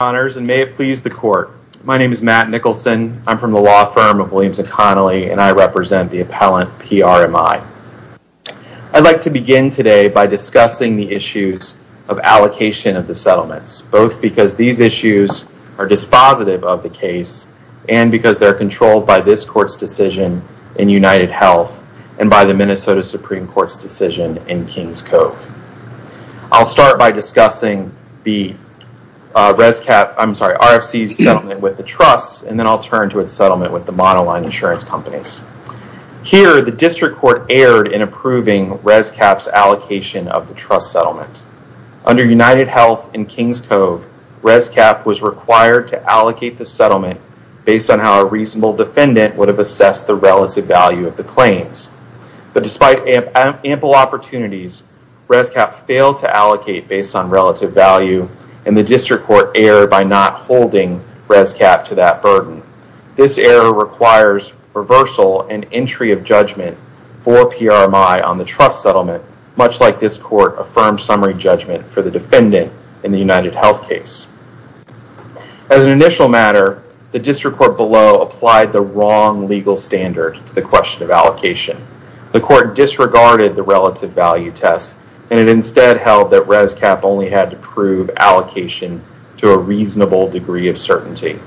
Honors and may it please the court. My name is Matt Nicholson. I'm from the law firm of Williams and Connolly and I represent the appellant PRMI. I'd like to begin today by discussing the issues of allocation of the settlements, both because these issues are dispositive of the case and because they're controlled by this court's decision in United Health and by the Minnesota Supreme Court's decision in Kings Cove. I'll start by discussing the RFC's settlement with the trusts and then I'll turn to its settlement with the monoline insurance companies. Here, the district court erred in approving ResCap's allocation of the trust settlement. Under United Health and Kings Cove, ResCap was required to allocate the settlement based on how a reasonable defendant would have assessed the relative value of the claims. But despite ample opportunities, ResCap failed to allocate based on relative value and the district court erred by not holding ResCap to that burden. This error requires reversal and entry of judgment for PRMI on the trust settlement, much like this court affirmed summary judgment for the defendant in the United Health case. As an initial matter, the district court below applied the wrong legal standard to the question of allocation. The court disregarded the relative value test and it instead held that ResCap only had to prove allocation to a reasonable degree of certainty.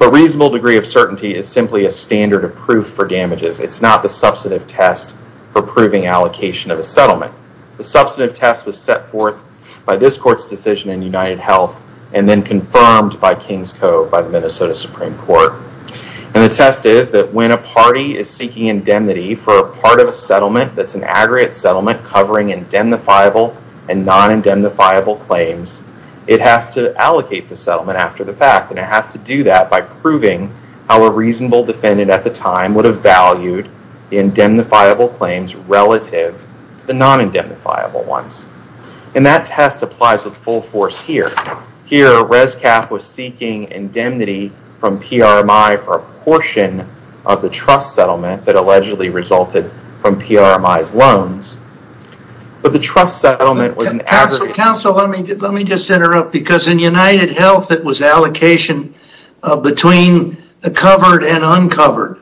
A reasonable degree of certainty is simply a standard of proof for damages. It's not the substantive test for proving allocation of a settlement. The substantive test was set forth by this court's decision in United Health and then confirmed by Kings Cove by the Minnesota Supreme Court. The test is that when a party is seeking indemnity for a part of a settlement that's an aggregate settlement covering indemnifiable and non-indemnifiable claims, it has to allocate the settlement after the fact and it has to do that by proving how a reasonable defendant at the time would have valued the indemnifiable claims relative to the non-indemnifiable ones. That test applies with full force here. Here ResCap was seeking indemnity from PRMI for a portion of the trust settlement that was generated from PRMI's loans, but the trust settlement was an aggregate. Counselor, let me just interrupt because in United Health it was allocation between covered and uncovered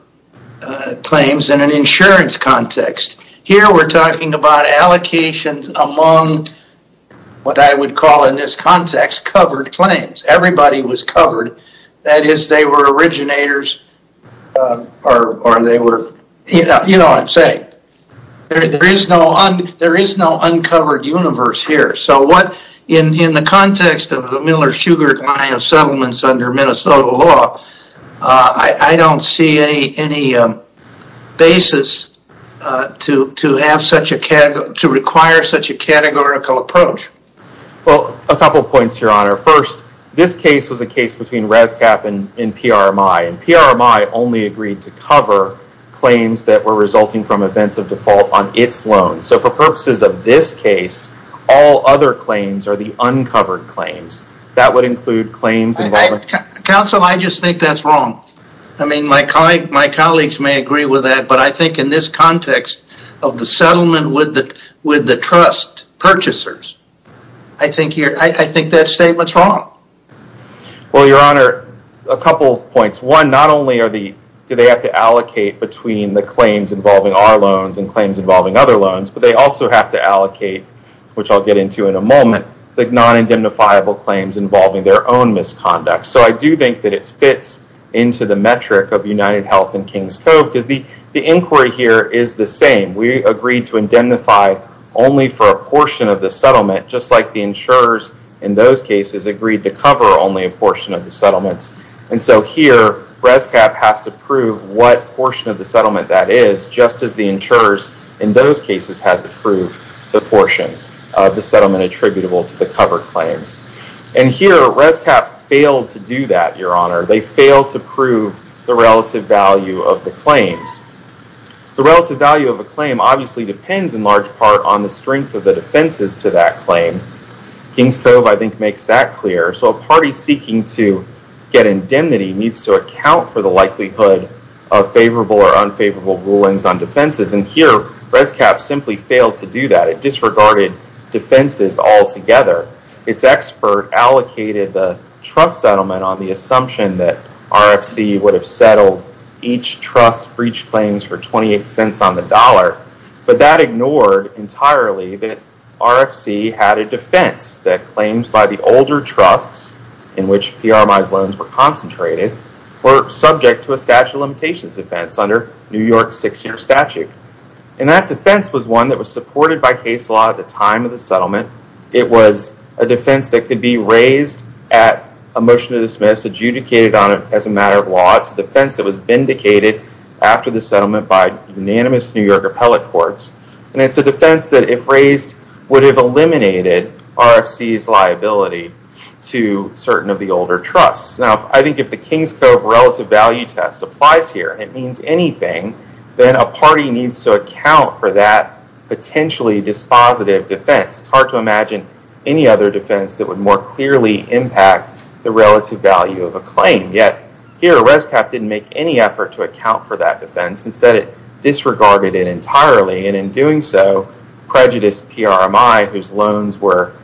claims in an insurance context. Here we're talking about allocations among what I would call in this context covered claims. Everybody was covered. That is they were originators or they were, you know what I'm saying. There is no uncovered universe here. In the context of the Miller-Sugar line of settlements under Minnesota law, I don't see any basis to require such a categorical approach. A couple of points, Your Honor. First, this case was a case between ResCap and PRMI. PRMI only agreed to cover claims that were resulting from events of default on its loans. For purposes of this case, all other claims are the uncovered claims. That would include claims involving- Counselor, I just think that's wrong. My colleagues may agree with that, but I think in this context of the settlement with the trust purchasers, I think that statement's wrong. Well, Your Honor, a couple of points. One, not only do they have to allocate between the claims involving our loans and claims involving other loans, but they also have to allocate, which I'll get into in a moment, the non-indemnifiable claims involving their own misconduct. I do think that it fits into the metric of United Health and Kings Cove because the inquiry here is the same. We agreed to indemnify only for a portion of the settlement, just like the insurers in those cases agreed to cover only a portion of the settlements. Here, ResCap has to prove what portion of the settlement that is, just as the insurers in those cases had to prove the portion of the settlement attributable to the covered claims. Here, ResCap failed to do that, Your Honor. They failed to prove the relative value of the claims. The relative value of a claim obviously depends in large part on the strength of the defenses to that claim. Kings Cove, I think, makes that clear. A party seeking to get indemnity needs to account for the likelihood of favorable or unfavorable rulings on defenses. Here, ResCap simply failed to do that. It disregarded defenses altogether. Its expert allocated the trust settlement on the assumption that RFC would have settled each trust breach claims for 28 cents on the dollar, but that ignored entirely that RFC had a defense that claims by the older trusts in which PRMIs loans were concentrated were subject to a statute of limitations defense under New York's six-year statute. That defense was one that was supported by case law at the time of the settlement. It was a defense that could be raised at a motion to dismiss, adjudicated on it as a matter of law. It's a defense that was vindicated after the settlement by unanimous New York appellate courts. It's a defense that, if raised, would have eliminated RFC's liability to certain of the older trusts. I think if the Kings Cove relative value test applies here and it means anything, then a party needs to account for that potentially dispositive defense. It's hard to imagine any other defense that would more clearly impact the relative value of a claim. Yet, here, ResCap didn't make any effort to account for that defense. Instead, it disregarded it entirely, and in doing so, prejudiced PRMI whose loans were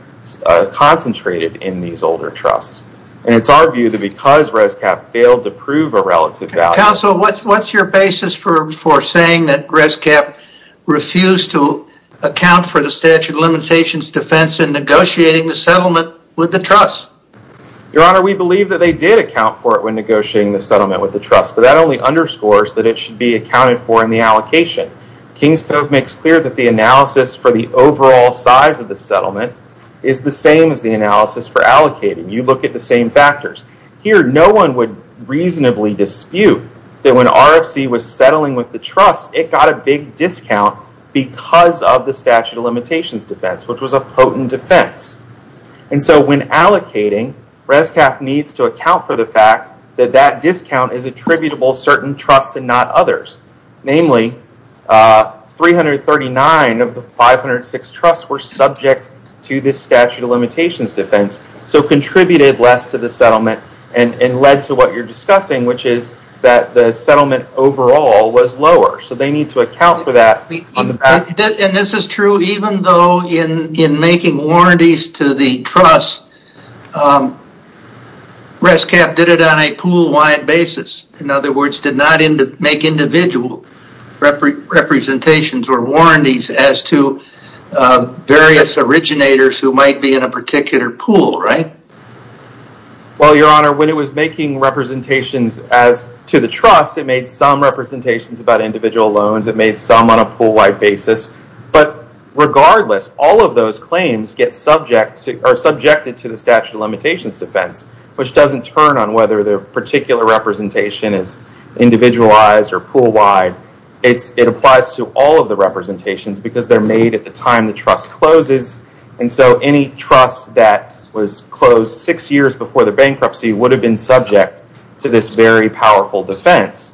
concentrated in these older trusts. It's our view that because ResCap failed to prove a relative value... Counsel, what's your basis for saying that ResCap refused to account for the statute of limitations defense in negotiating the settlement with the trust? Your Honor, we believe that they did account for it when negotiating the settlement with the trust, but that only underscores that it should be accounted for in the allocation. Kings Cove makes clear that the analysis for the overall size of the settlement is the same as the analysis for allocating. You look at the same factors. Here, no one would reasonably dispute that when RFC was settling with the trust, it got a big discount because of the statute of limitations defense, which was a potent defense. When allocating, ResCap needs to account for the fact that that discount is attributable to certain trusts and not others. Namely, 339 of the 506 trusts were subject to this statute of limitations defense, so contributed less to the settlement and led to what you're discussing, which is that the settlement overall was lower. They need to account for that on the back... This is true even though in making warranties to the trust, ResCap did it on a pool wide basis. In other words, did not make individual representations or warranties as to various originators who might be in a particular pool, right? Well, your honor, when it was making representations to the trust, it made some representations about individual loans. It made some on a pool wide basis, but regardless, all of those claims get subjected to the statute of limitations defense, which doesn't turn on whether the particular representation is individualized or pool wide. It applies to all of the representations because they're made at the time the trust closes, and so any trust that was closed six years before the bankruptcy would have been subject to this very powerful defense.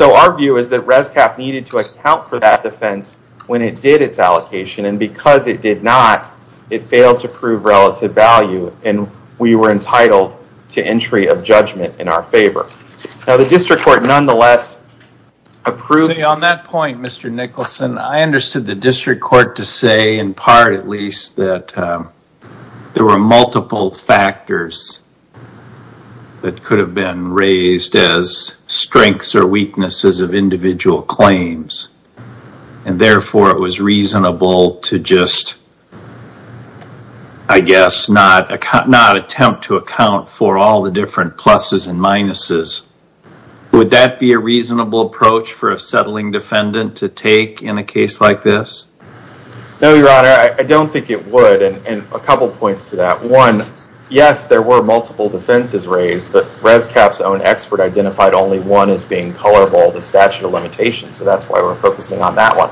Our view is that ResCap needed to account for that defense when it did its allocation, and because it did not, it failed to prove relative value, and we were entitled to entry of judgment in our favor. Now, the district court nonetheless approved... On that point, Mr. Nicholson, I understood the district court to say in part at least that there were multiple factors that could have been raised as strengths or weaknesses of individual claims, and therefore it was reasonable to just, I guess, not attempt to account for all the different pluses and minuses. Would that be a reasonable approach for a settling defendant to take in a case like this? No, Your Honor. I don't think it would, and a couple points to that. One, yes, there were multiple defenses raised, but ResCap's own expert identified only one as being colorable, the statute of limitations, so that's why we're focusing on that one,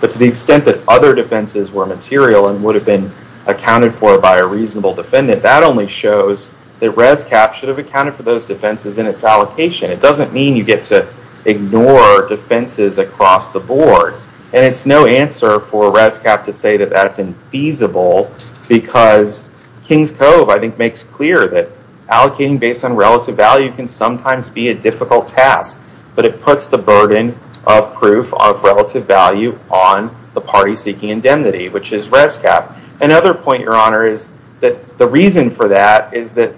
but to the extent that other defenses were material and would have been accounted for by a reasonable defendant, that only shows that ResCap should have accounted for those defenses in its allocation. It doesn't mean you get to ignore defenses across the board, and it's no answer for ResCap to say that that's infeasible because Kings Cove, I think, makes clear that allocating based on relative value can sometimes be a difficult task, but it puts the burden of proof of relative value on the party seeking indemnity, which is ResCap. Another point, Your Honor, is that the reason for that is that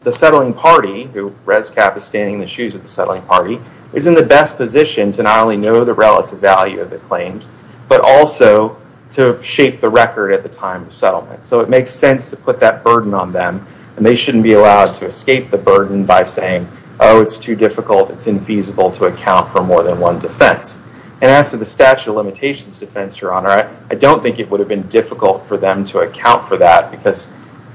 the settling party, who ResCap is standing in the shoes of the settling party, is in the best position to not only know the relative value of the claims, but also to shape the record at the time of settlement, so it makes sense to put that burden on them, and they shouldn't be allowed to escape the burden by saying, oh, it's too difficult, it's infeasible to account for more than one defense. As to the statute of limitations defense, Your Honor, I don't think it would have been difficult for them to account for that because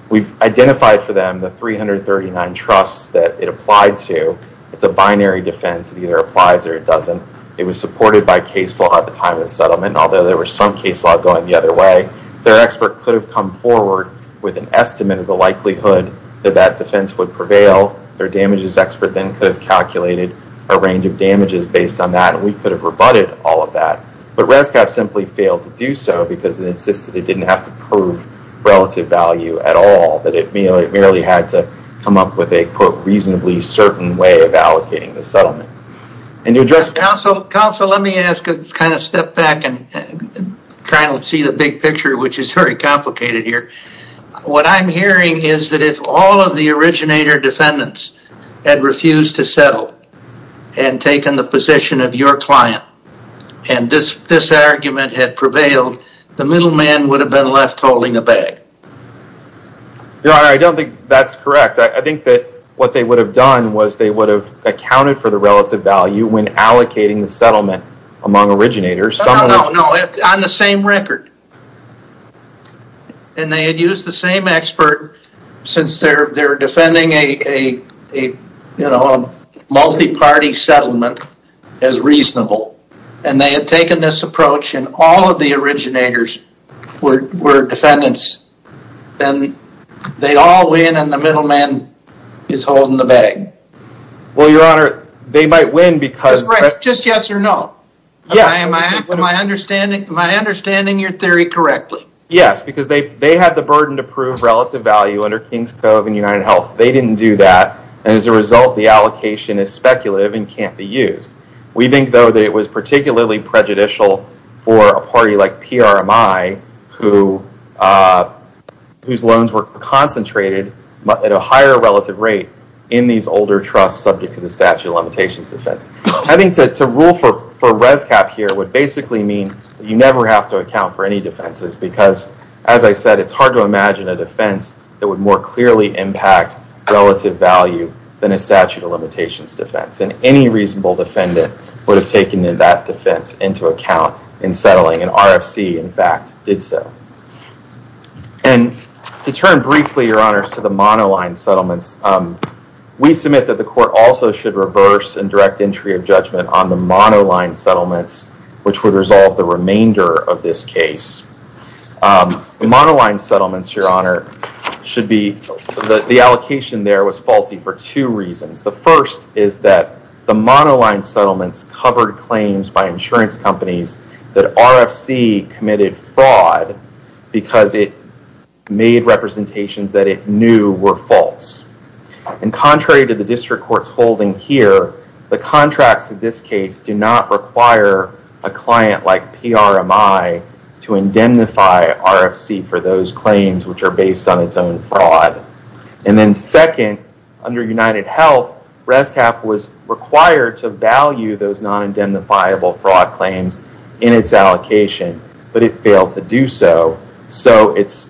we've identified for them the 339 trusts that it applied to. It's a binary defense. It either applies or it doesn't. It was supported by case law at the time of the settlement, although there was some case law going the other way. Their expert could have come forward with an estimate of the likelihood that that defense would prevail. Their damages expert then could have calculated a range of damages based on that, and we could have rebutted all of that, but ResCap simply failed to do so because it insisted it didn't have to prove relative value at all, that it merely had to come up with a, quote, reasonably certain way of allocating the settlement. Counsel, let me ask a step back and see the big picture, which is very complicated here. What I'm hearing is that if all of the originator defendants had refused to settle and taken the position of your client, and this argument had prevailed, the middleman would have been left holding the bag. I don't think that's correct. I think that what they would have done was they would have accounted for the relative value when allocating the settlement among originators. No, no, no. On the same record. They had used the same expert since they're defending a multi-party settlement as reasonable, and they had taken this approach, and all of the originators were defendants, and they'd all win, and the middleman is holding the bag. Well, Your Honor, they might win because... Just yes or no. Yes. Am I understanding your theory correctly? Yes, because they had the burden to prove relative value under Kings Cove and United Health. They didn't do that, and as a result, the allocation is speculative and can't be used. We think, though, that it was particularly prejudicial for a party like PRMI, whose loans were concentrated at a higher relative rate in these older trusts subject to the statute of limitations defense. I think to rule for res cap here would basically mean you never have to account for any defenses because, as I said, it's hard to imagine a contract relative value than a statute of limitations defense, and any reasonable defendant would have taken that defense into account in settling, and RFC, in fact, did so. To turn briefly, Your Honor, to the monoline settlements, we submit that the court also should reverse and direct entry of judgment on the monoline settlements, which would resolve the remainder of this case. Monoline settlements, Your Honor, should be... The allocation there was faulty for two reasons. The first is that the monoline settlements covered claims by insurance companies that RFC committed fraud because it made representations that it knew were false. Contrary to the district court's holding here, the contracts of this case do not require a client like PRMI to indemnify RFC for those claims, which are false. Second, under UnitedHealth, RFC was required to value those non-indemnifiable fraud claims in its allocation, but it failed to do so, so its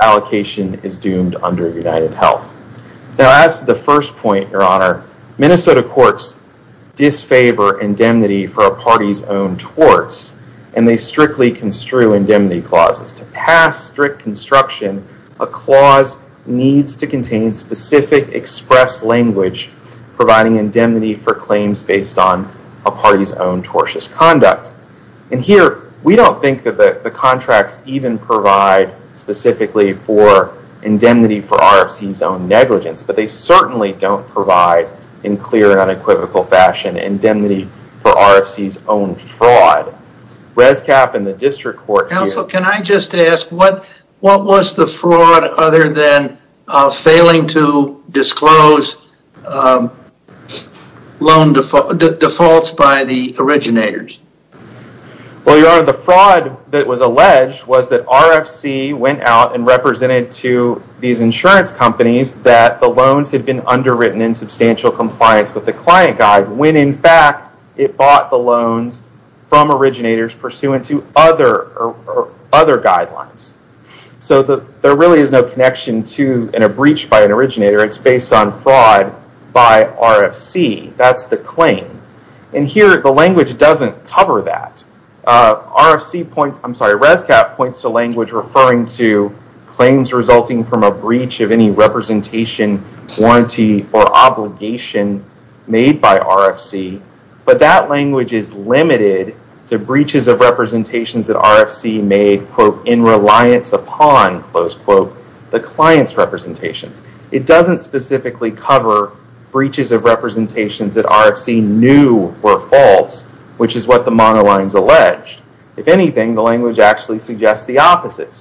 allocation is doomed under UnitedHealth. Now, as to the first point, Your Honor, Minnesota courts disfavor indemnity for a party's own torts, and they strictly construe indemnity clauses. To pass strict construction, a clause needs to contain specific express language providing indemnity for claims based on a party's own tortious conduct. Here, we don't think that the contracts even provide specifically for indemnity for RFC's own negligence, but they certainly don't provide, in clear and unequivocal fashion, indemnity for RFC's own fraud. ResCap and the district court here- Counsel, can I just ask, what was the fraud other than failing to disclose loan defaults by the originators? Well, Your Honor, the fraud that was alleged was that RFC went out and represented to these insurance companies that the loans had been underwritten in substantial compliance with the client guide when, in fact, it bought the loans from originators pursuant to other guidelines. There really is no connection to a breach by an originator. It's based on fraud by RFC. That's the claim. Here, the language doesn't cover that. ResCap points to language referring to claims resulting from a breach of any representation, warranty, or obligation made by RFC, but that language is limited to breaches of representations that RFC made, quote, in reliance upon, close quote, the client's representations. It doesn't specifically cover breaches of representations that RFC knew were false, which is what the monolines alleged. If anything, the language actually suggests the opposite.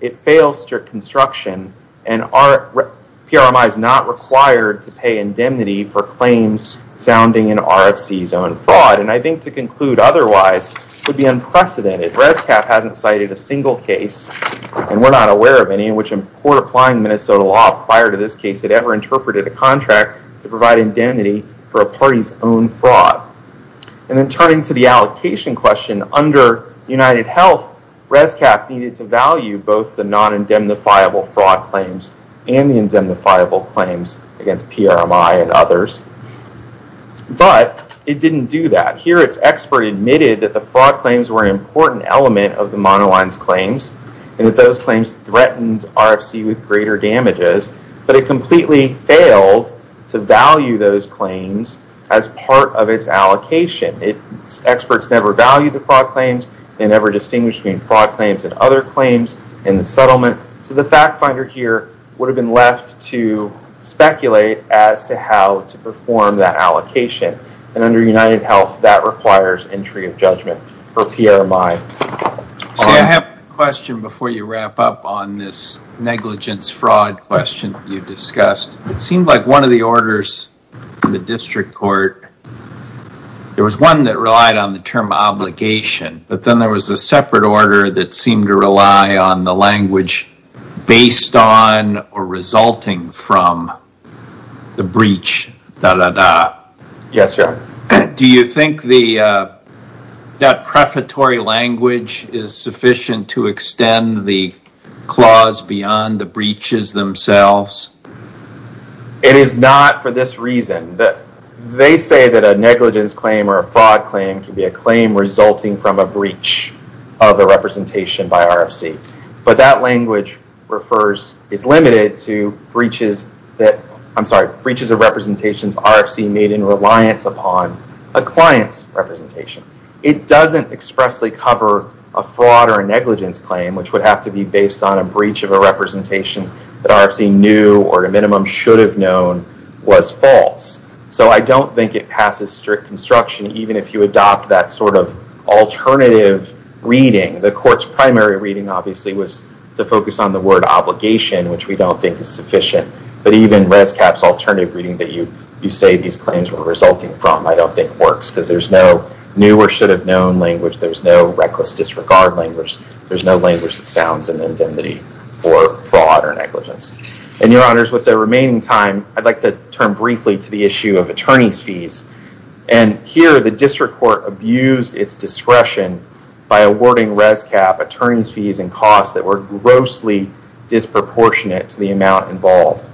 It fails strict construction, and PRMI is not required to pay indemnity for claims sounding in RFC's own fraud. I think to conclude otherwise would be unprecedented. ResCap hasn't cited a single case, and we're not aware of any, in which a court applying Minnesota law prior to this case had ever interpreted a contract to provide indemnity for a party's own fraud. Then turning to the allocation question, under UnitedHealth, ResCap needed to value both the non-indemnifiable fraud claims and the indemnifiable claims against PRMI and others, but it didn't do that. Here, its expert admitted that the fraud claims were an important element of the monolines claims and that those claims threatened RFC with greater damages, but it completely failed to value those claims as part of its allocation. Its experts never valued the fraud claims and never distinguished between fraud claims and other claims in the settlement, so the fact finder here would have been left to speculate as to how to perform that allocation. Under UnitedHealth, that requires entry of judgment for PRMI. I have a question before you wrap up on this negligence fraud question you discussed. It seemed like one of the orders in the district court, there was one that relied on the term obligation, but then there was a separate order that seemed to rely on the language based on or resulting from the breach, da-da-da. Yes, sir. Do you think that prefatory language is sufficient to extend the clause beyond the breaches themselves? It is not for this reason. They say that a negligence claim or a fraud claim can be a claim resulting from a breach of a representation by RFC, but that language is limited to breaches of representations RFC made in reliance upon a client's representation. It doesn't expressly cover a fraud or a negligence claim, which would have to be based on a breach of a representation that RFC knew or at a minimum should have known was false. I don't think it passes strict construction even if you adopt that alternative reading. The court's primary reading obviously was to focus on the word obligation, which we don't think is sufficient, but even ResCap's alternative reading that you say these claims were resulting from, I don't think works because there's no new or should have known language. There's no reckless disregard language. There's no language that sounds in indemnity for fraud or negligence. Your honors, with the remaining time, I'd like to turn briefly to the issue of attorney's fees. Here, the district court abused its discretion by awarding ResCap attorney's fees and costs that were grossly disproportionate to the amount involved.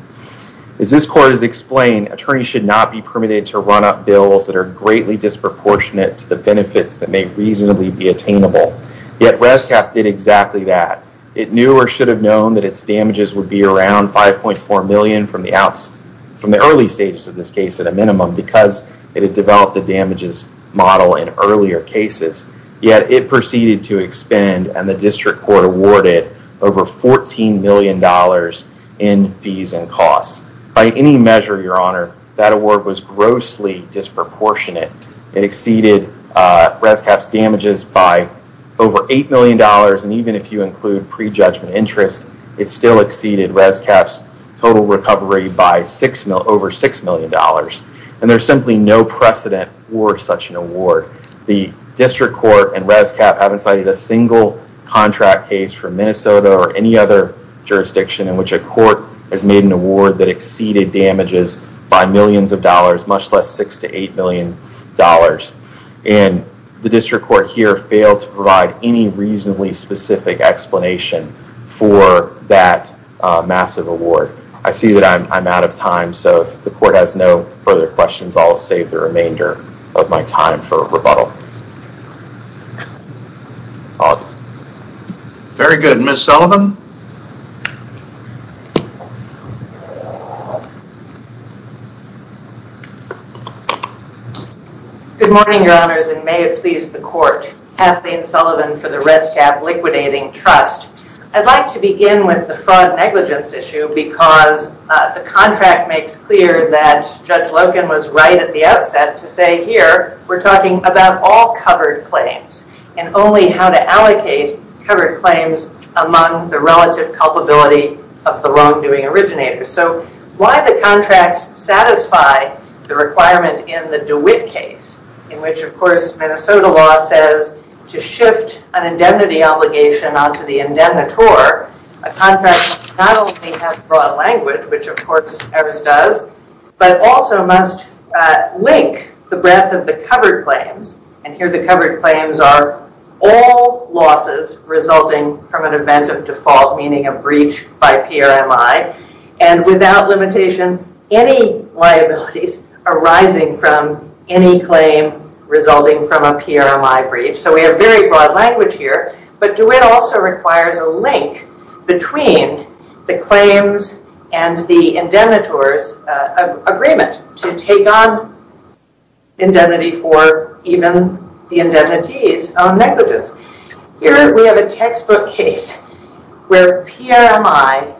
As this court has explained, attorneys should not be permitted to run up bills that are greatly disproportionate to the benefits that may reasonably be attainable, yet ResCap did exactly that. It knew or should have known that its damages would be around 5.4 million from the early stages of this case at a minimum because it had developed a damages model in earlier cases, yet it proceeded to expend and the district court awarded over $14 million in fees and costs. By any measure, your honor, that award was grossly disproportionate. It exceeded ResCap's damages by over $8 million, and even if you include prejudgment interest, it still exceeded ResCap's total recovery by over $6 million. There's simply no precedent for such an award. The district court and ResCap haven't cited a single contract case from Minnesota or any other jurisdiction in which a court has made an award that exceeded damages by millions of dollars, much less $6 to $8 million, and the district court here failed to provide any reasonably specific explanation for that massive award. I see that I'm out of time, so if the court has no further questions, I'll save the remainder of my time for rebuttal. Very good. Ms. Sullivan? Good morning, your honors, and may it please the court. Kathleen Sullivan for the ResCap Liquidating Trust. I'd like to begin with the fraud negligence issue because the contract makes clear that Judge Loken was right at the outset to say, here, we're talking about all covered claims and only how to allocate covered claims among the relative culpability of the wrongdoing originators. Why the contracts satisfy the requirement in the DeWitt case, in which, of course, Minnesota law says to shift an indemnity obligation onto the indemnitor, a contract not only has broad language, which, of course, ours does, but also must link the breadth of the covered claims, and here the covered claims are all losses resulting from an event of default, meaning a breach by PRMI, and without limitation, any liabilities arising from any claim resulting from a PRMI breach. We have very broad language here, but DeWitt also requires a link between the claims and the indemnitor's agreement to take on indemnity for even the indemnity's own negligence. Here we have a textbook case where PRMI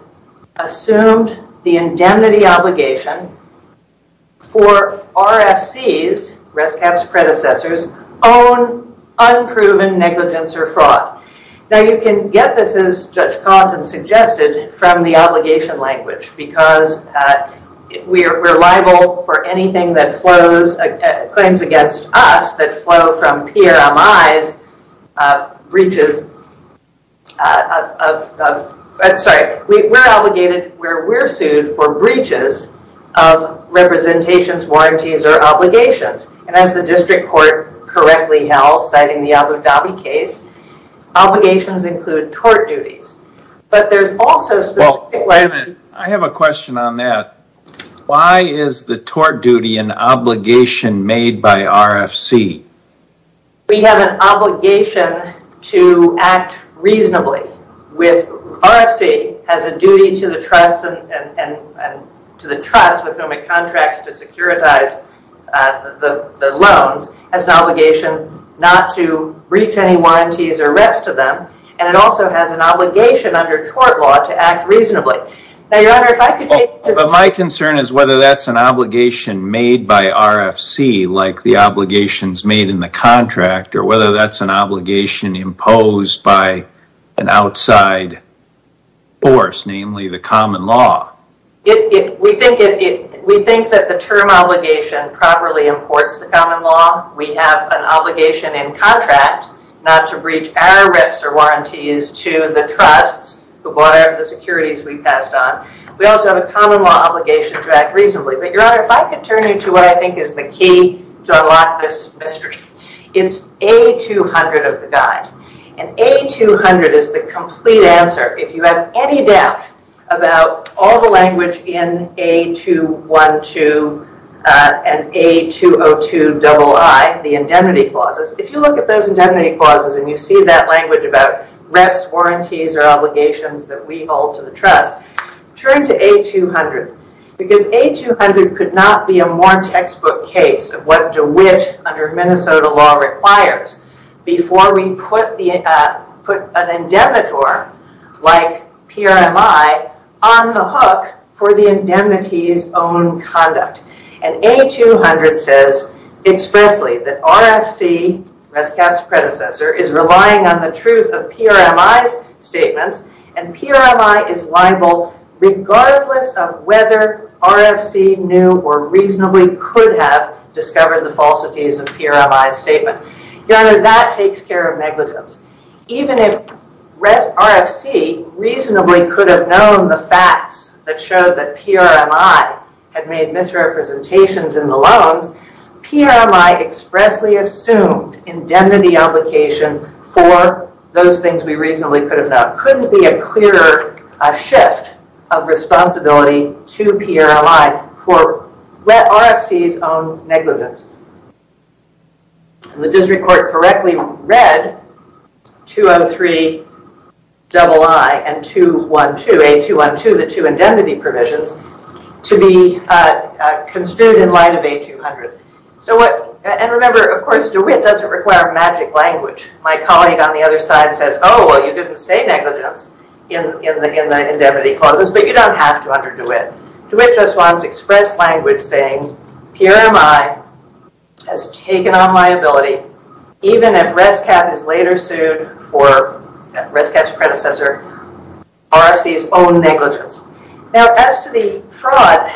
assumed the indemnity obligation for RFC's, ResCap's predecessors, own unproven negligence or fraud. Now, you can get this, as Judge Compton suggested, from the obligation language because we're liable for anything that flows, claims against us that flow from PRMI's breaches of... I'm sorry, we're obligated, we're sued for breaches of representations, warranties, or obligations, and as the district court correctly held, citing the Abu Dhabi case, obligations include tort duties, but there's also... Well, wait a minute. I have a question on that. Why is the tort duty an obligation made by RFC? We have an obligation to act reasonably with RFC as a duty to the trust and to the trust with whom it contracts to securitize the breach of the loans as an obligation not to breach any warranties or reps to them, and it also has an obligation under tort law to act reasonably. Now, Your Honor, if I could take to... My concern is whether that's an obligation made by RFC like the obligations made in the contract or whether that's an obligation imposed by an outside force, namely the common law. We think that the term obligation properly imports the common law. We have an obligation in contract not to breach our reps or warranties to the trusts who bought out the securities we passed on. We also have a common law obligation to act reasonably, but Your Honor, if I could turn you to what I think is the key to unlock this mystery, it's A200 of the guide, and A200 is the complete answer if you have any doubt about all the language in A212 and A202II, the indemnity clauses. If you look at those indemnity clauses and you see that language about reps, warranties, or obligations that we hold to the trust, turn to A200 because A200 could not be a more textbook case of what DeWitt under Minnesota law requires before we put an indemnitor like PRMI on the hook for the indemnity's own conduct. A200 says expressly that RFC, Rescat's predecessor, is relying on the truth of PRMI's statements and PRMI is liable regardless of whether RFC knew or reasonably could have discovered the facts that showed that PRMI had made misrepresentations in the loans, PRMI expressly assumed indemnity obligation for those things we reasonably could have known. Couldn't be a clearer shift of responsibility to PRMI for RFC's own negligence. The district court correctly read that RFC had 203II and A212, the two indemnity provisions, to be construed in line of A200. And remember, of course, DeWitt doesn't require magic language. My colleague on the other side says, oh, well, you didn't say negligence in the indemnity clauses, but you don't have to under DeWitt. DeWitt just wants express language saying PRMI has taken on liability even if Rescat is later sued for, Rescat's predecessor, RFC's own negligence. Now as to the fraud,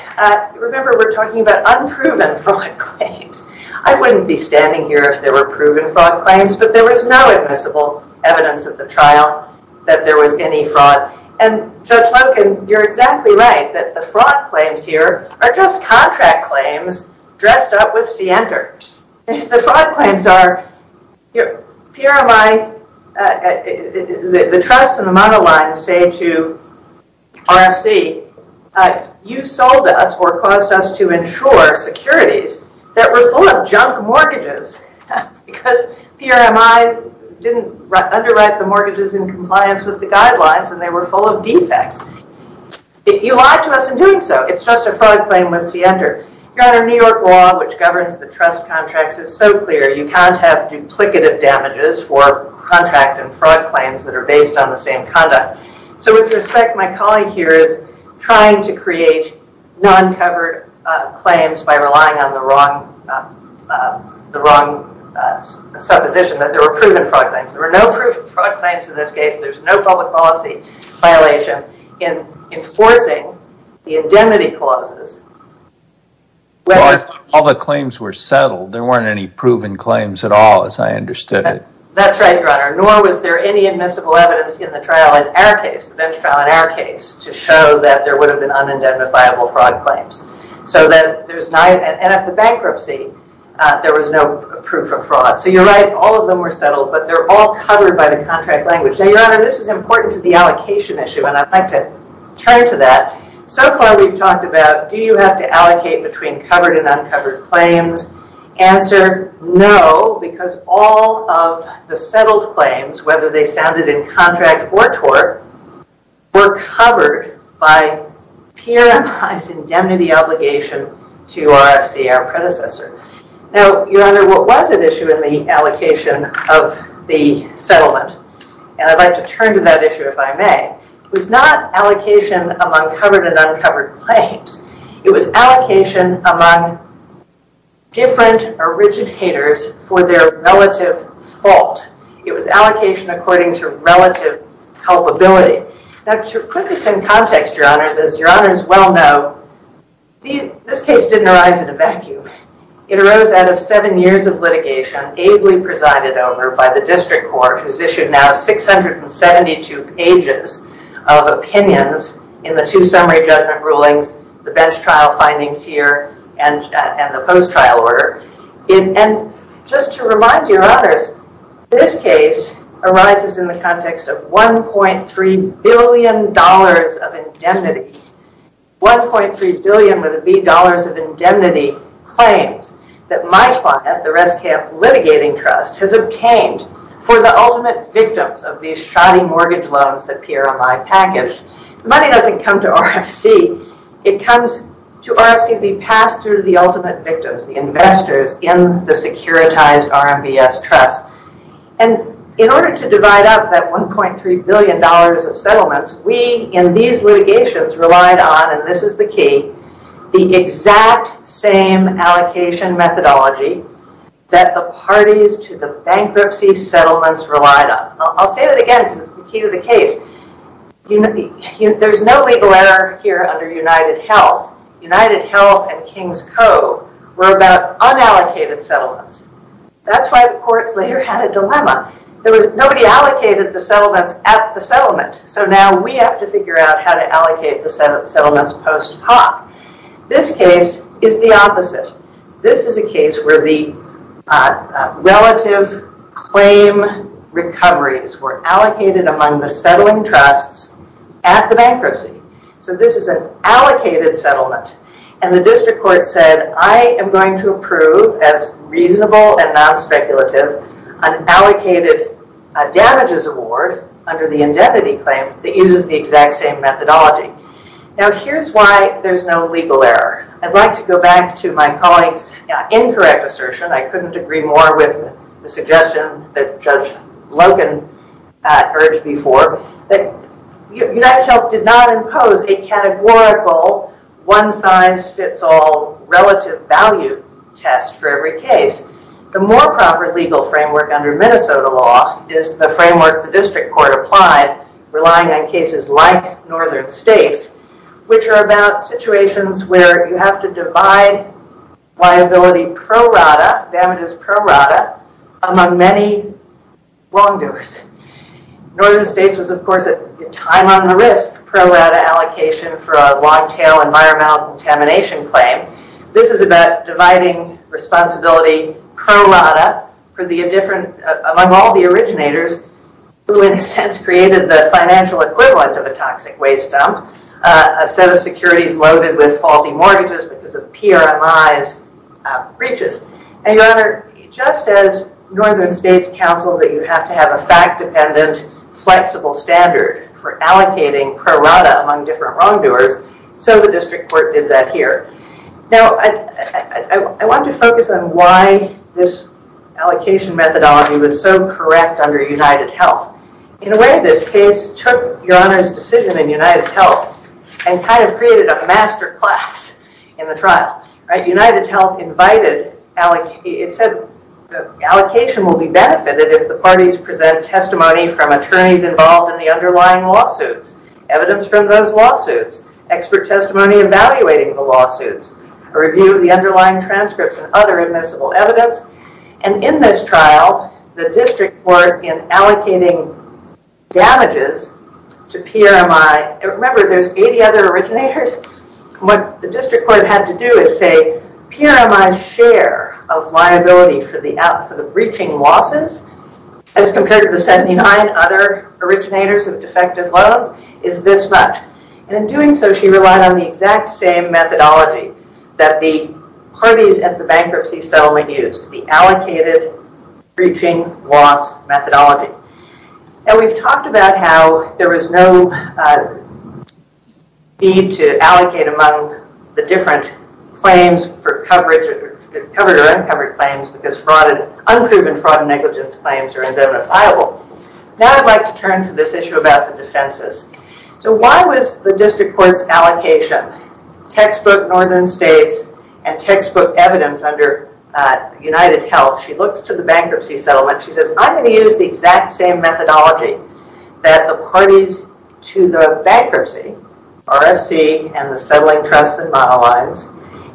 remember we're talking about unproven fraud claims. I wouldn't be standing here if there were proven fraud claims, but there was no admissible evidence at the trial that there was any fraud. And Judge Loken, you're exactly right that the fraud claims here are just contract claims dressed up with cnter. The fraud claims are PRMI, the trust and the monoline say to RFC, you sold us or caused us to insure securities that were full of junk mortgages because PRMI didn't underwrite the mortgages in compliance with the trust or fraud claim with cnter. Your Honor, New York law, which governs the trust contracts is so clear, you can't have duplicative damages for contract and fraud claims that are based on the same conduct. So with respect, my colleague here is trying to create non-covered claims by relying on the wrong supposition that there were proven fraud claims. There were no proven fraud claims in this case. There's no public policy violation in enforcing the indemnity clauses. All the claims were settled. There weren't any proven claims at all as I understood it. That's right, Your Honor. Nor was there any admissible evidence in the trial in our case, the bench trial in our case, to show that there would have been un-indemnifiable fraud claims. And at the bankruptcy, there was no proof of fraud. So you're right, all of them were settled, but they're all covered by the contract language. Now, Your Honor, this is important to the allocation issue, and I'd like to turn to that. So far we've talked about, do you have to allocate between covered and uncovered claims? Answer, no, because all of the settled claims, whether they sounded in contract or tort, were covered by peer-advised indemnity obligation to RFC, our predecessor. Now, Your Honor, what was at issue in the allocation of the settlement? And I'd like to turn to that issue, if I may. It was not allocation among covered and uncovered claims. It was allocation among different originators for their relative fault. It was allocation according to relative culpability. Now, to put this in context, Your Honors, as Your Honor, it arose out of seven years of litigation, ably presided over by the District Court, who's issued now 672 pages of opinions in the two summary judgment rulings, the bench trial findings here, and the post-trial order. And just to remind Your Honors, this case arises in the context of $1.3 billion of indemnity. $1.3 billion, with a B, dollars of indemnity claims that my client, the Res Camp Litigating Trust, has obtained for the ultimate victims of these shoddy mortgage loans that PRMI packaged. The money doesn't come to RFC. It comes to RFC to be passed through the ultimate victims, the investors in the securitized RMBS Trust. And in order to divide up that $1.3 billion of settlements, we, in these litigations, relied on, and this is the key, the exact same allocation methodology that the parties to the bankruptcy settlements relied on. I'll say that again, because it's the key to the case. There's no legal error here under United Health. United Health and Kings Cove were about unallocated settlements. That's why the courts later had a dilemma. Nobody allocated the settlements at the settlement. So now we have to figure out how to allocate the settlements post hoc. This case is the opposite. This is a case where the relative claim recoveries were allocated among the settling trusts at the bankruptcy. So this is an allocated settlement. And the district court said, I am going to approve as reasonable and non-speculative an allocated damages award under the indemnity claim that uses the exact same methodology. Now, here's why there's no legal error. I'd like to go back to my colleague's incorrect assertion. I couldn't agree more with the suggestion that Judge Logan urged before, that United Health did not impose a categorical one-size-fits-all relative value test for every case. The more proper legal framework under Minnesota law is the framework the district court applied, relying on cases like Northern States, which are about situations where you have to divide liability pro-rata, damages pro-rata, among many wrongdoers. Northern States was, of course, a time on the risk pro-rata allocation for a long-tail environmental contamination claim. This is about dividing responsibility pro-rata among all the originators, who in a sense created the financial equivalent of a toxic waste dump, a set of securities loaded with faulty mortgages because of PRMI's breaches. And Your Honor, just as Northern States counseled that you have to have a fact-dependent, flexible standard for allocating pro-rata among different wrongdoers, so the district court did that here. Now, I want to focus on why this allocation methodology was so correct under United Health. In a way, this case took Your Honor's decision in United Health and kind of created a master class in the trial. United Health invited... It said, allocation will be benefited if the parties present testimony from attorneys involved in the underlying lawsuits, evidence from those lawsuits, expert testimony evaluating the lawsuits, a review of the underlying transcripts and other admissible evidence. And in this trial, the district court in allocating damages to PRMI... Remember, there's 80 other originators. What the district court had to do is say, PRMI's share of liability for the breaching losses, as compared to the 79 other originators of defective loans, is this much. And in doing so, she relied on the exact same methodology that the parties at the bankruptcy settlement used, the allocated breaching loss methodology. Now, we've talked about how there was no need to allocate among the different claims for coverage... Covered or uncovered claims because unproven fraud and negligence claims are indemnifiable. Now, I'd like to turn to this issue about the defenses. Why was the district court's allocation, textbook northern states and textbook evidence under United Health... She looks to the bankruptcy settlement. She says, I'm going to use the exact same methodology that the parties to the bankruptcy, RFC and the settling trusts and model lines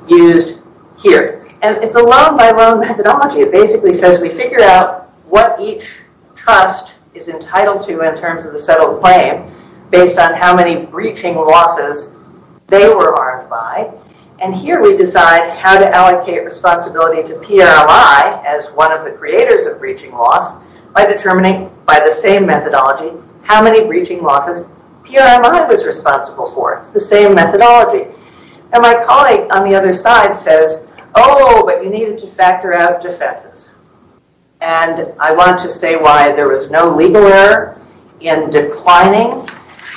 used here. And it's a loan by loan methodology. It basically says we figure out what each trust is entitled to in terms of the settled claim, based on how many breaching losses they were harmed by. And here we decide how to allocate responsibility to PRMI as one of the creators of breaching loss, by determining, by the same methodology, how many breaching losses PRMI was responsible for. It's the same methodology. And my colleague on the other side says, oh, but you needed to factor out defenses. And I want to say why there was no legal error in declining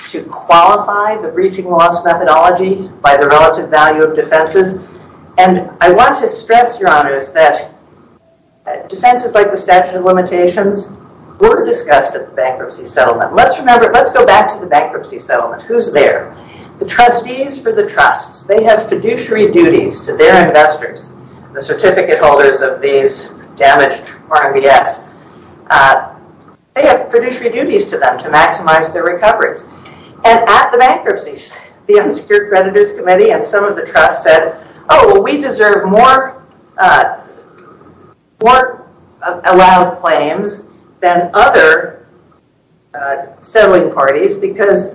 to qualify the breaching loss methodology by the relative value of defenses. And I want to stress, your honors, that defenses like the statute of limitations were discussed at the bankruptcy settlement. Let's remember, let's go back to the bankruptcy settlement. Who's there? The trustees for the trusts. They have fiduciary duties to their investors. The certificate holders of these damaged RMBS. They have fiduciary duties to them to maximize their recoveries. And at the bankruptcies, the unsecured creditors committee and some of the trusts said, oh, well, we deserve more allowed claims than other settling parties because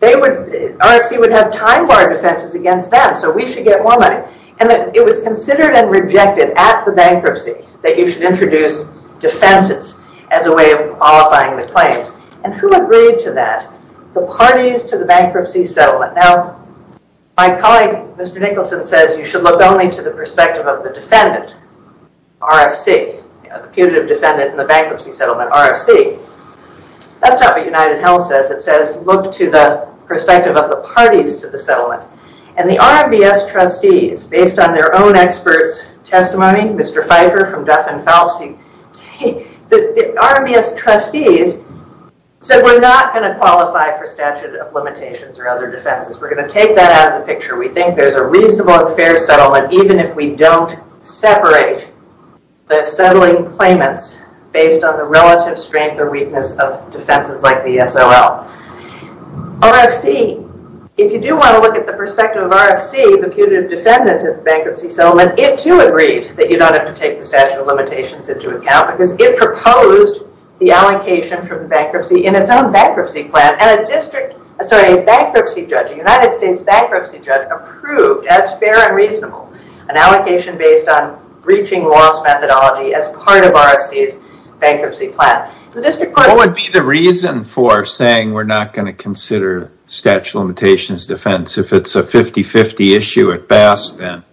RFC would have time-bar defenses against them, so we should get more money. And it was considered and rejected at the bankruptcy that you should introduce defenses as a way of qualifying the claims. And who agreed to that? The parties to the bankruptcy settlement. Now, my colleague, Mr. Nicholson, says you should look only to the perspective of the defendant, RFC, the putative defendant in the bankruptcy settlement, RFC. That's not what United Health says. It says look to the perspective of the parties to the settlement. And the RMBS trustees, based on their own experts' testimony, Mr. Pfeiffer from Duff and Phelps, the RMBS trustees said we're not going to qualify for statute of limitations or other defenses. We're going to take that out of the picture. We think there's a reasonable and fair settlement even if we don't separate the settling claimants based on the relative strength or weakness of defenses like the SOL. RFC, if you do want to look at the perspective of RFC, the putative defendant of the bankruptcy settlement, it too agreed that you don't have to take the statute of limitations into account because it proposed the allocation from the bankruptcy in its own bankruptcy plan. And a bankruptcy judge, a United States bankruptcy judge, approved as fair and reasonable an allocation based on breaching loss methodology as part of RFC's bankruptcy plan. What would be the reason for saying we're not going to consider statute of limitations defense if it's a 50-50 issue at best and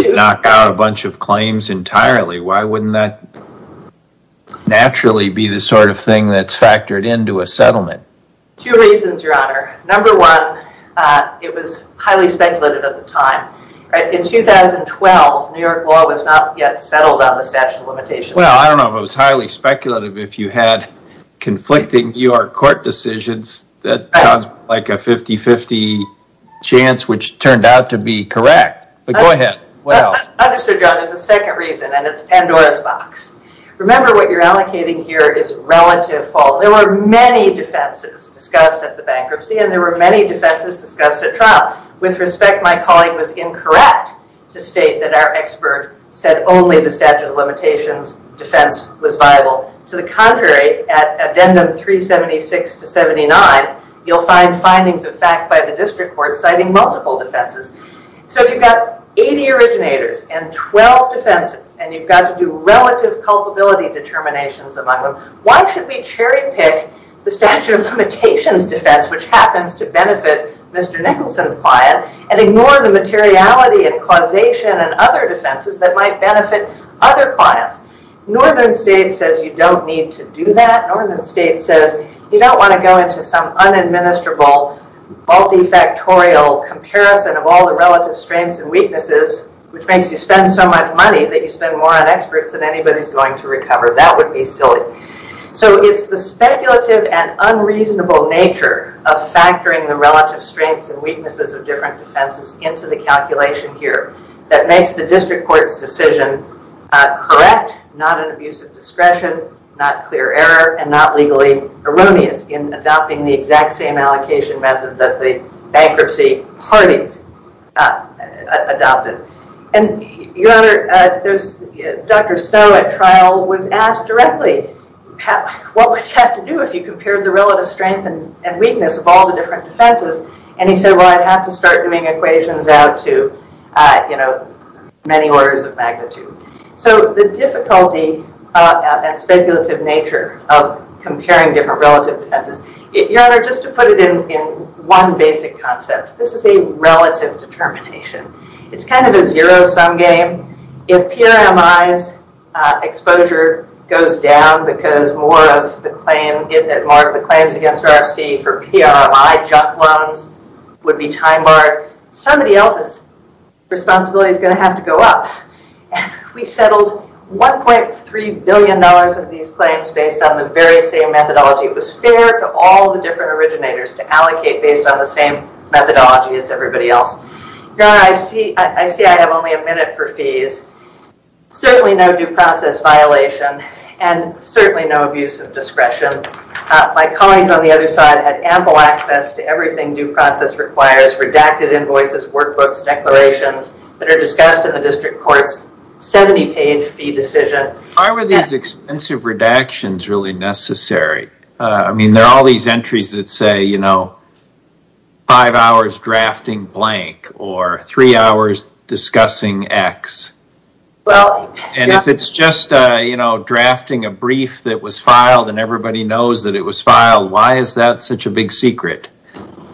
knock out a bunch of claims entirely? Why wouldn't that naturally be the sort of thing that's factored into a settlement? Two reasons, your honor. Number one, it was highly speculated at the statute of limitations. Well, I don't know if it was highly speculative if you had conflicting U.R. court decisions that sounds like a 50-50 chance which turned out to be correct. But go ahead. What else? I understand, your honor. There's a second reason and it's Pandora's box. Remember what you're allocating here is relative fault. There were many defenses discussed at the bankruptcy and there were many defenses discussed at trial. With respect, my colleague was incorrect to state that our expert said only the statute of limitations defense was viable. To the contrary, at addendum 376 to 79, you'll find findings of fact by the district court citing multiple defenses. So if you've got 80 originators and 12 defenses and you've got to do relative culpability determinations among them, why should we cherry pick the statute of limitations defense which happens to benefit Mr. Nicholson's client and ignore the materiality and causation and other defenses that might benefit other clients? Northern state says you don't need to do that. Northern state says you don't want to go into some unadministerable multifactorial comparison of all the relative strengths and weaknesses which makes you spend so much money that you spend more on experts than anybody's going to recover. That would be silly. So it's the speculative and unreasonable nature of factoring the relative strengths and weaknesses of different defenses into the calculation here that makes the district court's decision correct, not an abuse of discretion, not clear error, and not legally erroneous in adopting the exact same allocation method that the bankruptcy parties adopted. Dr. Stowe at trial was asked directly, what would you have to do if you had to compare different relative defenses? And he said, well, I'd have to start doing equations out to many orders of magnitude. So the difficulty and speculative nature of comparing different relative defenses, your honor, just to put it in one basic concept, this is a relative determination. It's kind of a zero sum game. If PRMI's exposure goes down because more of the claims against RFC for PRMI junk loans would be time-barred, somebody else's responsibility is going to have to go up. We settled $1.3 billion of these claims based on the very same methodology. It was fair to all the different originators to allocate based on the same methodology as everybody else. Your honor, I see I have only a minute for fees. Certainly no due process violation and certainly no abuse of discretion. My colleagues on the other side had ample access to everything due process requires, redacted invoices, workbooks, declarations that are discussed in the district court's 70-page fee decision. Why were these extensive redactions really necessary? I mean, there are all these entries that say, you know, five hours drafting blank or three hours discussing X. If it's just, you know, drafting a brief that was filed and everybody knows that it was filed, why is that such a big secret?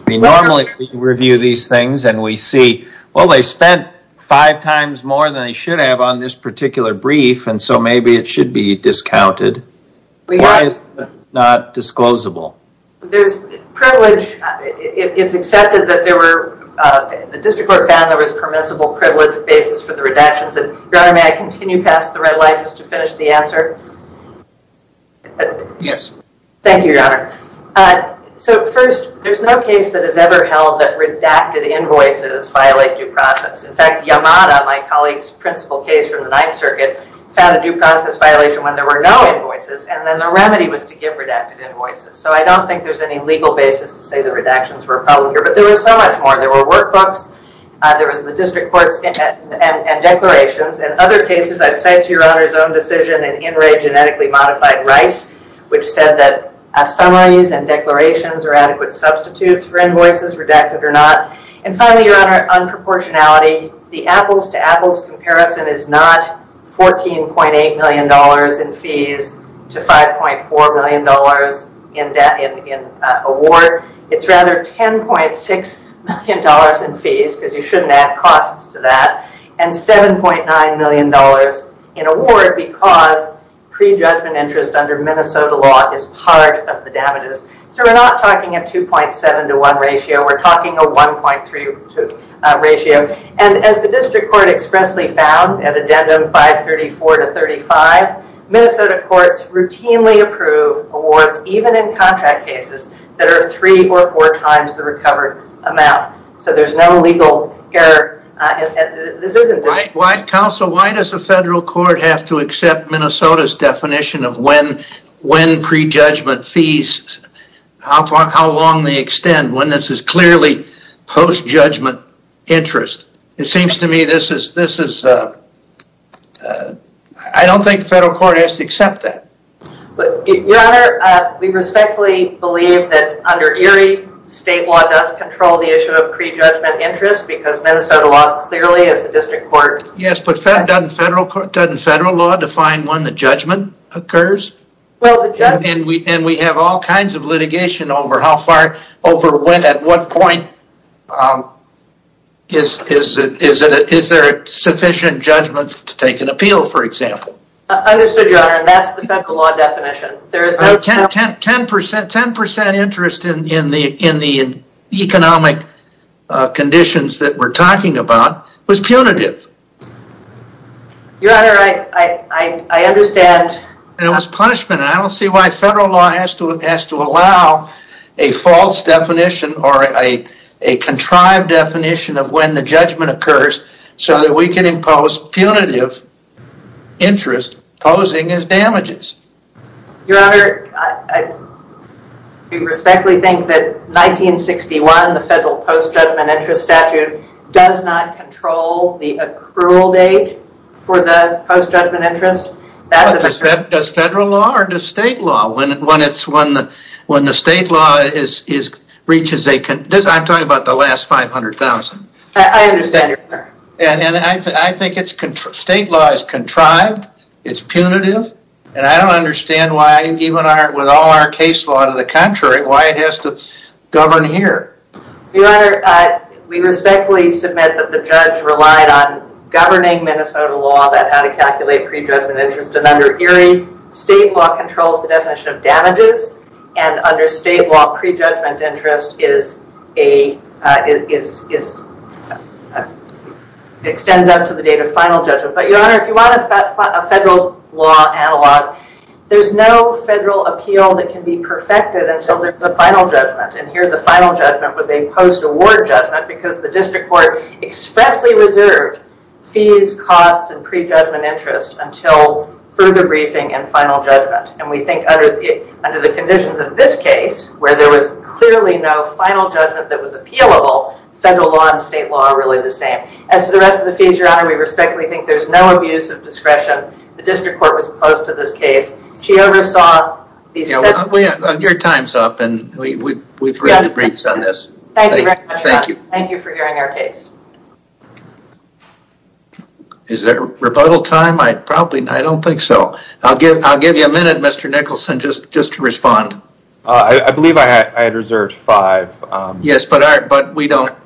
We normally review these things and we see, well, they spent five times more than they should have on this particular brief and so maybe it should be discounted. Why is it not disclosable? There's privilege. It's accepted that there were, the district court found there was permissible privilege basis for the redactions. Your honor, may I continue past the red light just to finish the answer? Yes. Thank you, your honor. So first, there's no case that has ever held that redacted invoices violate due process. In fact, Yamada, my colleague's principal case from the Ninth Circuit, found a due process violation when there were no invoices and then the remedy was to give redacted invoices. So I don't think there's any legal basis to say the redactions were a problem here, but there was so much more. There were workbooks, there was the district courts and declarations and other cases, I'd say to your honor's own decision, an in-ray genetically modified rice, which said that summaries and declarations are adequate substitutes for invoices, redacted or not. And finally, your honor, unproportionality. The apples to apples in award. It's rather $10.6 million in fees, because you shouldn't add costs to that, and $7.9 million in award because pre-judgment interest under Minnesota law is part of the damages. So we're not talking a 2.7 to 1 ratio, we're talking a 1.3 to 2 ratio. And as the district court expressly found at addendum 534 to 35, Minnesota courts routinely approve awards, even in contract cases, that are three or four times the recovered amount. So there's no legal error. This isn't just... Right. Counsel, why does the federal court have to accept Minnesota's definition of when pre-judgment fees, how long they extend, when this is clearly post-judgment interest? It seems to me this is... I don't think the federal court has to accept that. Your honor, we respectfully believe that under ERIE, state law does control the issue of pre-judgment interest, because Minnesota law clearly, as the district court... Yes, but doesn't federal law define when the judgment occurs? And we have all kinds of litigation over how far, over when, at what point, is there sufficient judgment to take an appeal, for example. I understood, your honor, and that's the federal law definition. 10% interest in the economic conditions that we're talking about was punitive. Your honor, I understand... And it was punishment. I don't see why federal law has to allow a false definition or a contrived definition of when the judgment occurs, so that we can impose punitive interest posing as damages. Your honor, I respectfully think that 1961, the federal post-judgment interest statute, does not control the accrual date for the post-judgment interest. Does federal law or does state law? When the state law reaches a... I'm talking about the last 500,000. I understand, your honor. I think state law is contrived, it's punitive, and I don't understand why, even with all our case law to the contrary, why it has to govern here. Your honor, we respectfully submit that the judge relied on governing Minnesota law about how to calculate pre-judgment interest, and under Erie, state law controls the definition of damages, and under state law, pre-judgment interest extends up to the date of final judgment. Your honor, if you want a federal law analog, there's no federal appeal that can be perfected until there's a final judgment. Here, the final judgment was a post-award judgment because the district court expressly reserved fees, costs, and pre-judgment interest until further briefing and final judgment. We think under the conditions of this case, where there was clearly no final judgment that was appealable, federal law and state law are really the same. As to the rest of the fees, your honor, we respectfully think there's no abuse of discretion. The district court was close to this case. She oversaw these... Your time's up, and we've read the briefs on this. Thank you very much, your honor. Thank you for hearing our case. Is there rebuttal time? I don't think so. I'll give you a minute, Mr. Nicholson, just to respond. I believe I had reserved five. Yes, but we don't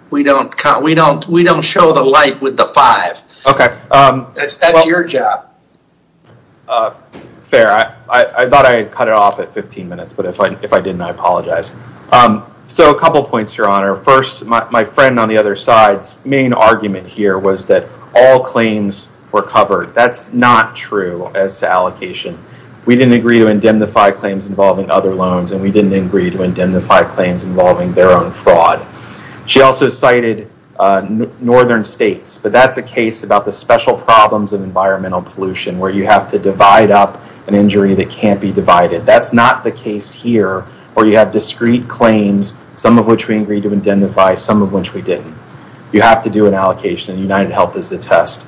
show the light with the five. Okay. That's your job. Fair. I thought I had cut it off at 15 minutes, but if I didn't, I apologize. A couple points, your honor. First, my friend on the other side's main argument here was that all claims were covered. That's not true as to allocation. We didn't agree to indemnify claims involving other loans, and we didn't agree to indemnify claims involving their own fraud. She also cited northern states, but that's a case about the special problems of environmental pollution, where you have to divide up an injury that can't be divided. That's not the case here, where you have discrete claims, some of which we agreed to indemnify, some of which we didn't. You have to do an allocation, and UnitedHealth is the test.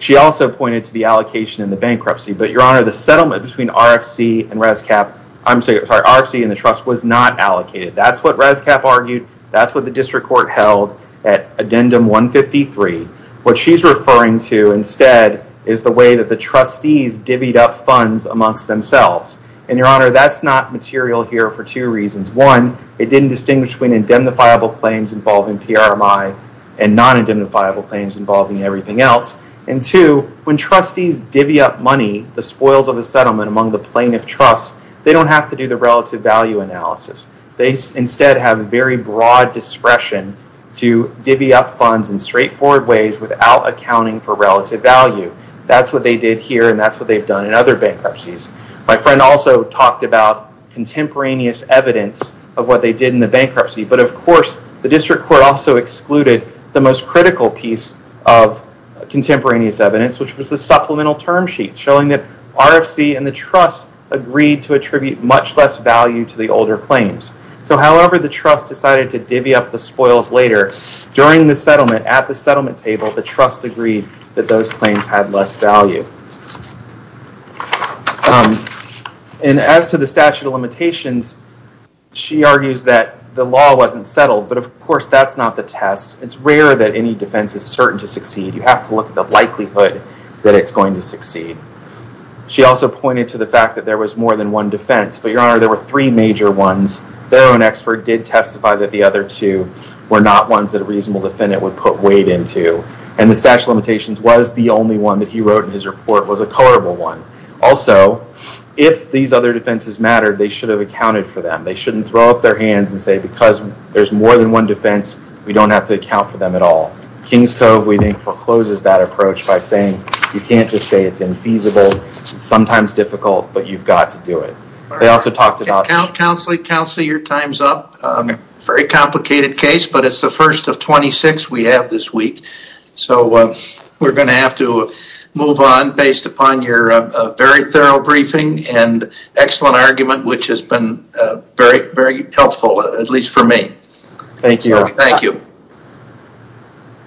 She also pointed to the allocation in the bankruptcy, but your honor, the settlement between RFC and the trust was not allocated. That's what RFC argued. That's what the district court held at addendum 153. What she's referring to instead is the way the trustees divvied up funds amongst themselves. Your honor, that's not material here for two reasons. One, it didn't distinguish between indemnifiable claims involving PRMI and non-indemnifiable claims involving everything else. Two, when trustees divvy up money, the spoils of a settlement among the plaintiff trusts, they don't have to do the relative value analysis. They instead have very broad discretion to divvy up funds in straightforward ways without accounting for relative value. That's what they did here, and that's what they've done in other bankruptcies. My friend also talked about contemporaneous evidence of what they did in the bankruptcy, but of course, the district court also excluded the most critical piece of contemporaneous evidence, which was the supplemental term sheet showing that RFC and the trust agreed to attribute much less value to the older claims. However, the trust decided to divvy up the spoils later. During the settlement, at the settlement table, the trust agreed that those claims had less value. As to the statute of limitations, she argues that the law wasn't settled, but of course, that's not the test. It's rare that any defense is certain to succeed. You have to look at the likelihood that it's going to succeed. She also pointed to the fact that there was more than one defense, but your honor, there were three major ones. Barrow, an expert, did testify that the other two were not ones that a reasonable defendant would put weight into, and the statute of limitations was the only one that he wrote in his report was a colorable one. Also, if these other defenses mattered, they should have accounted for them. They shouldn't throw up their hands and say, because there's more than one defense, we don't have to account for them at all. Kings Cove, we think, forecloses that approach by saying, you can't just say it's infeasible, sometimes difficult, but you've got to do it. They also talked about it. Counselor, your time's up. Very complicated case, but it's the first of 26 we have this week. We're going to have to move on based upon your very thorough briefing and excellent argument, which has been very helpful, at least for me. Thank you. Thank you.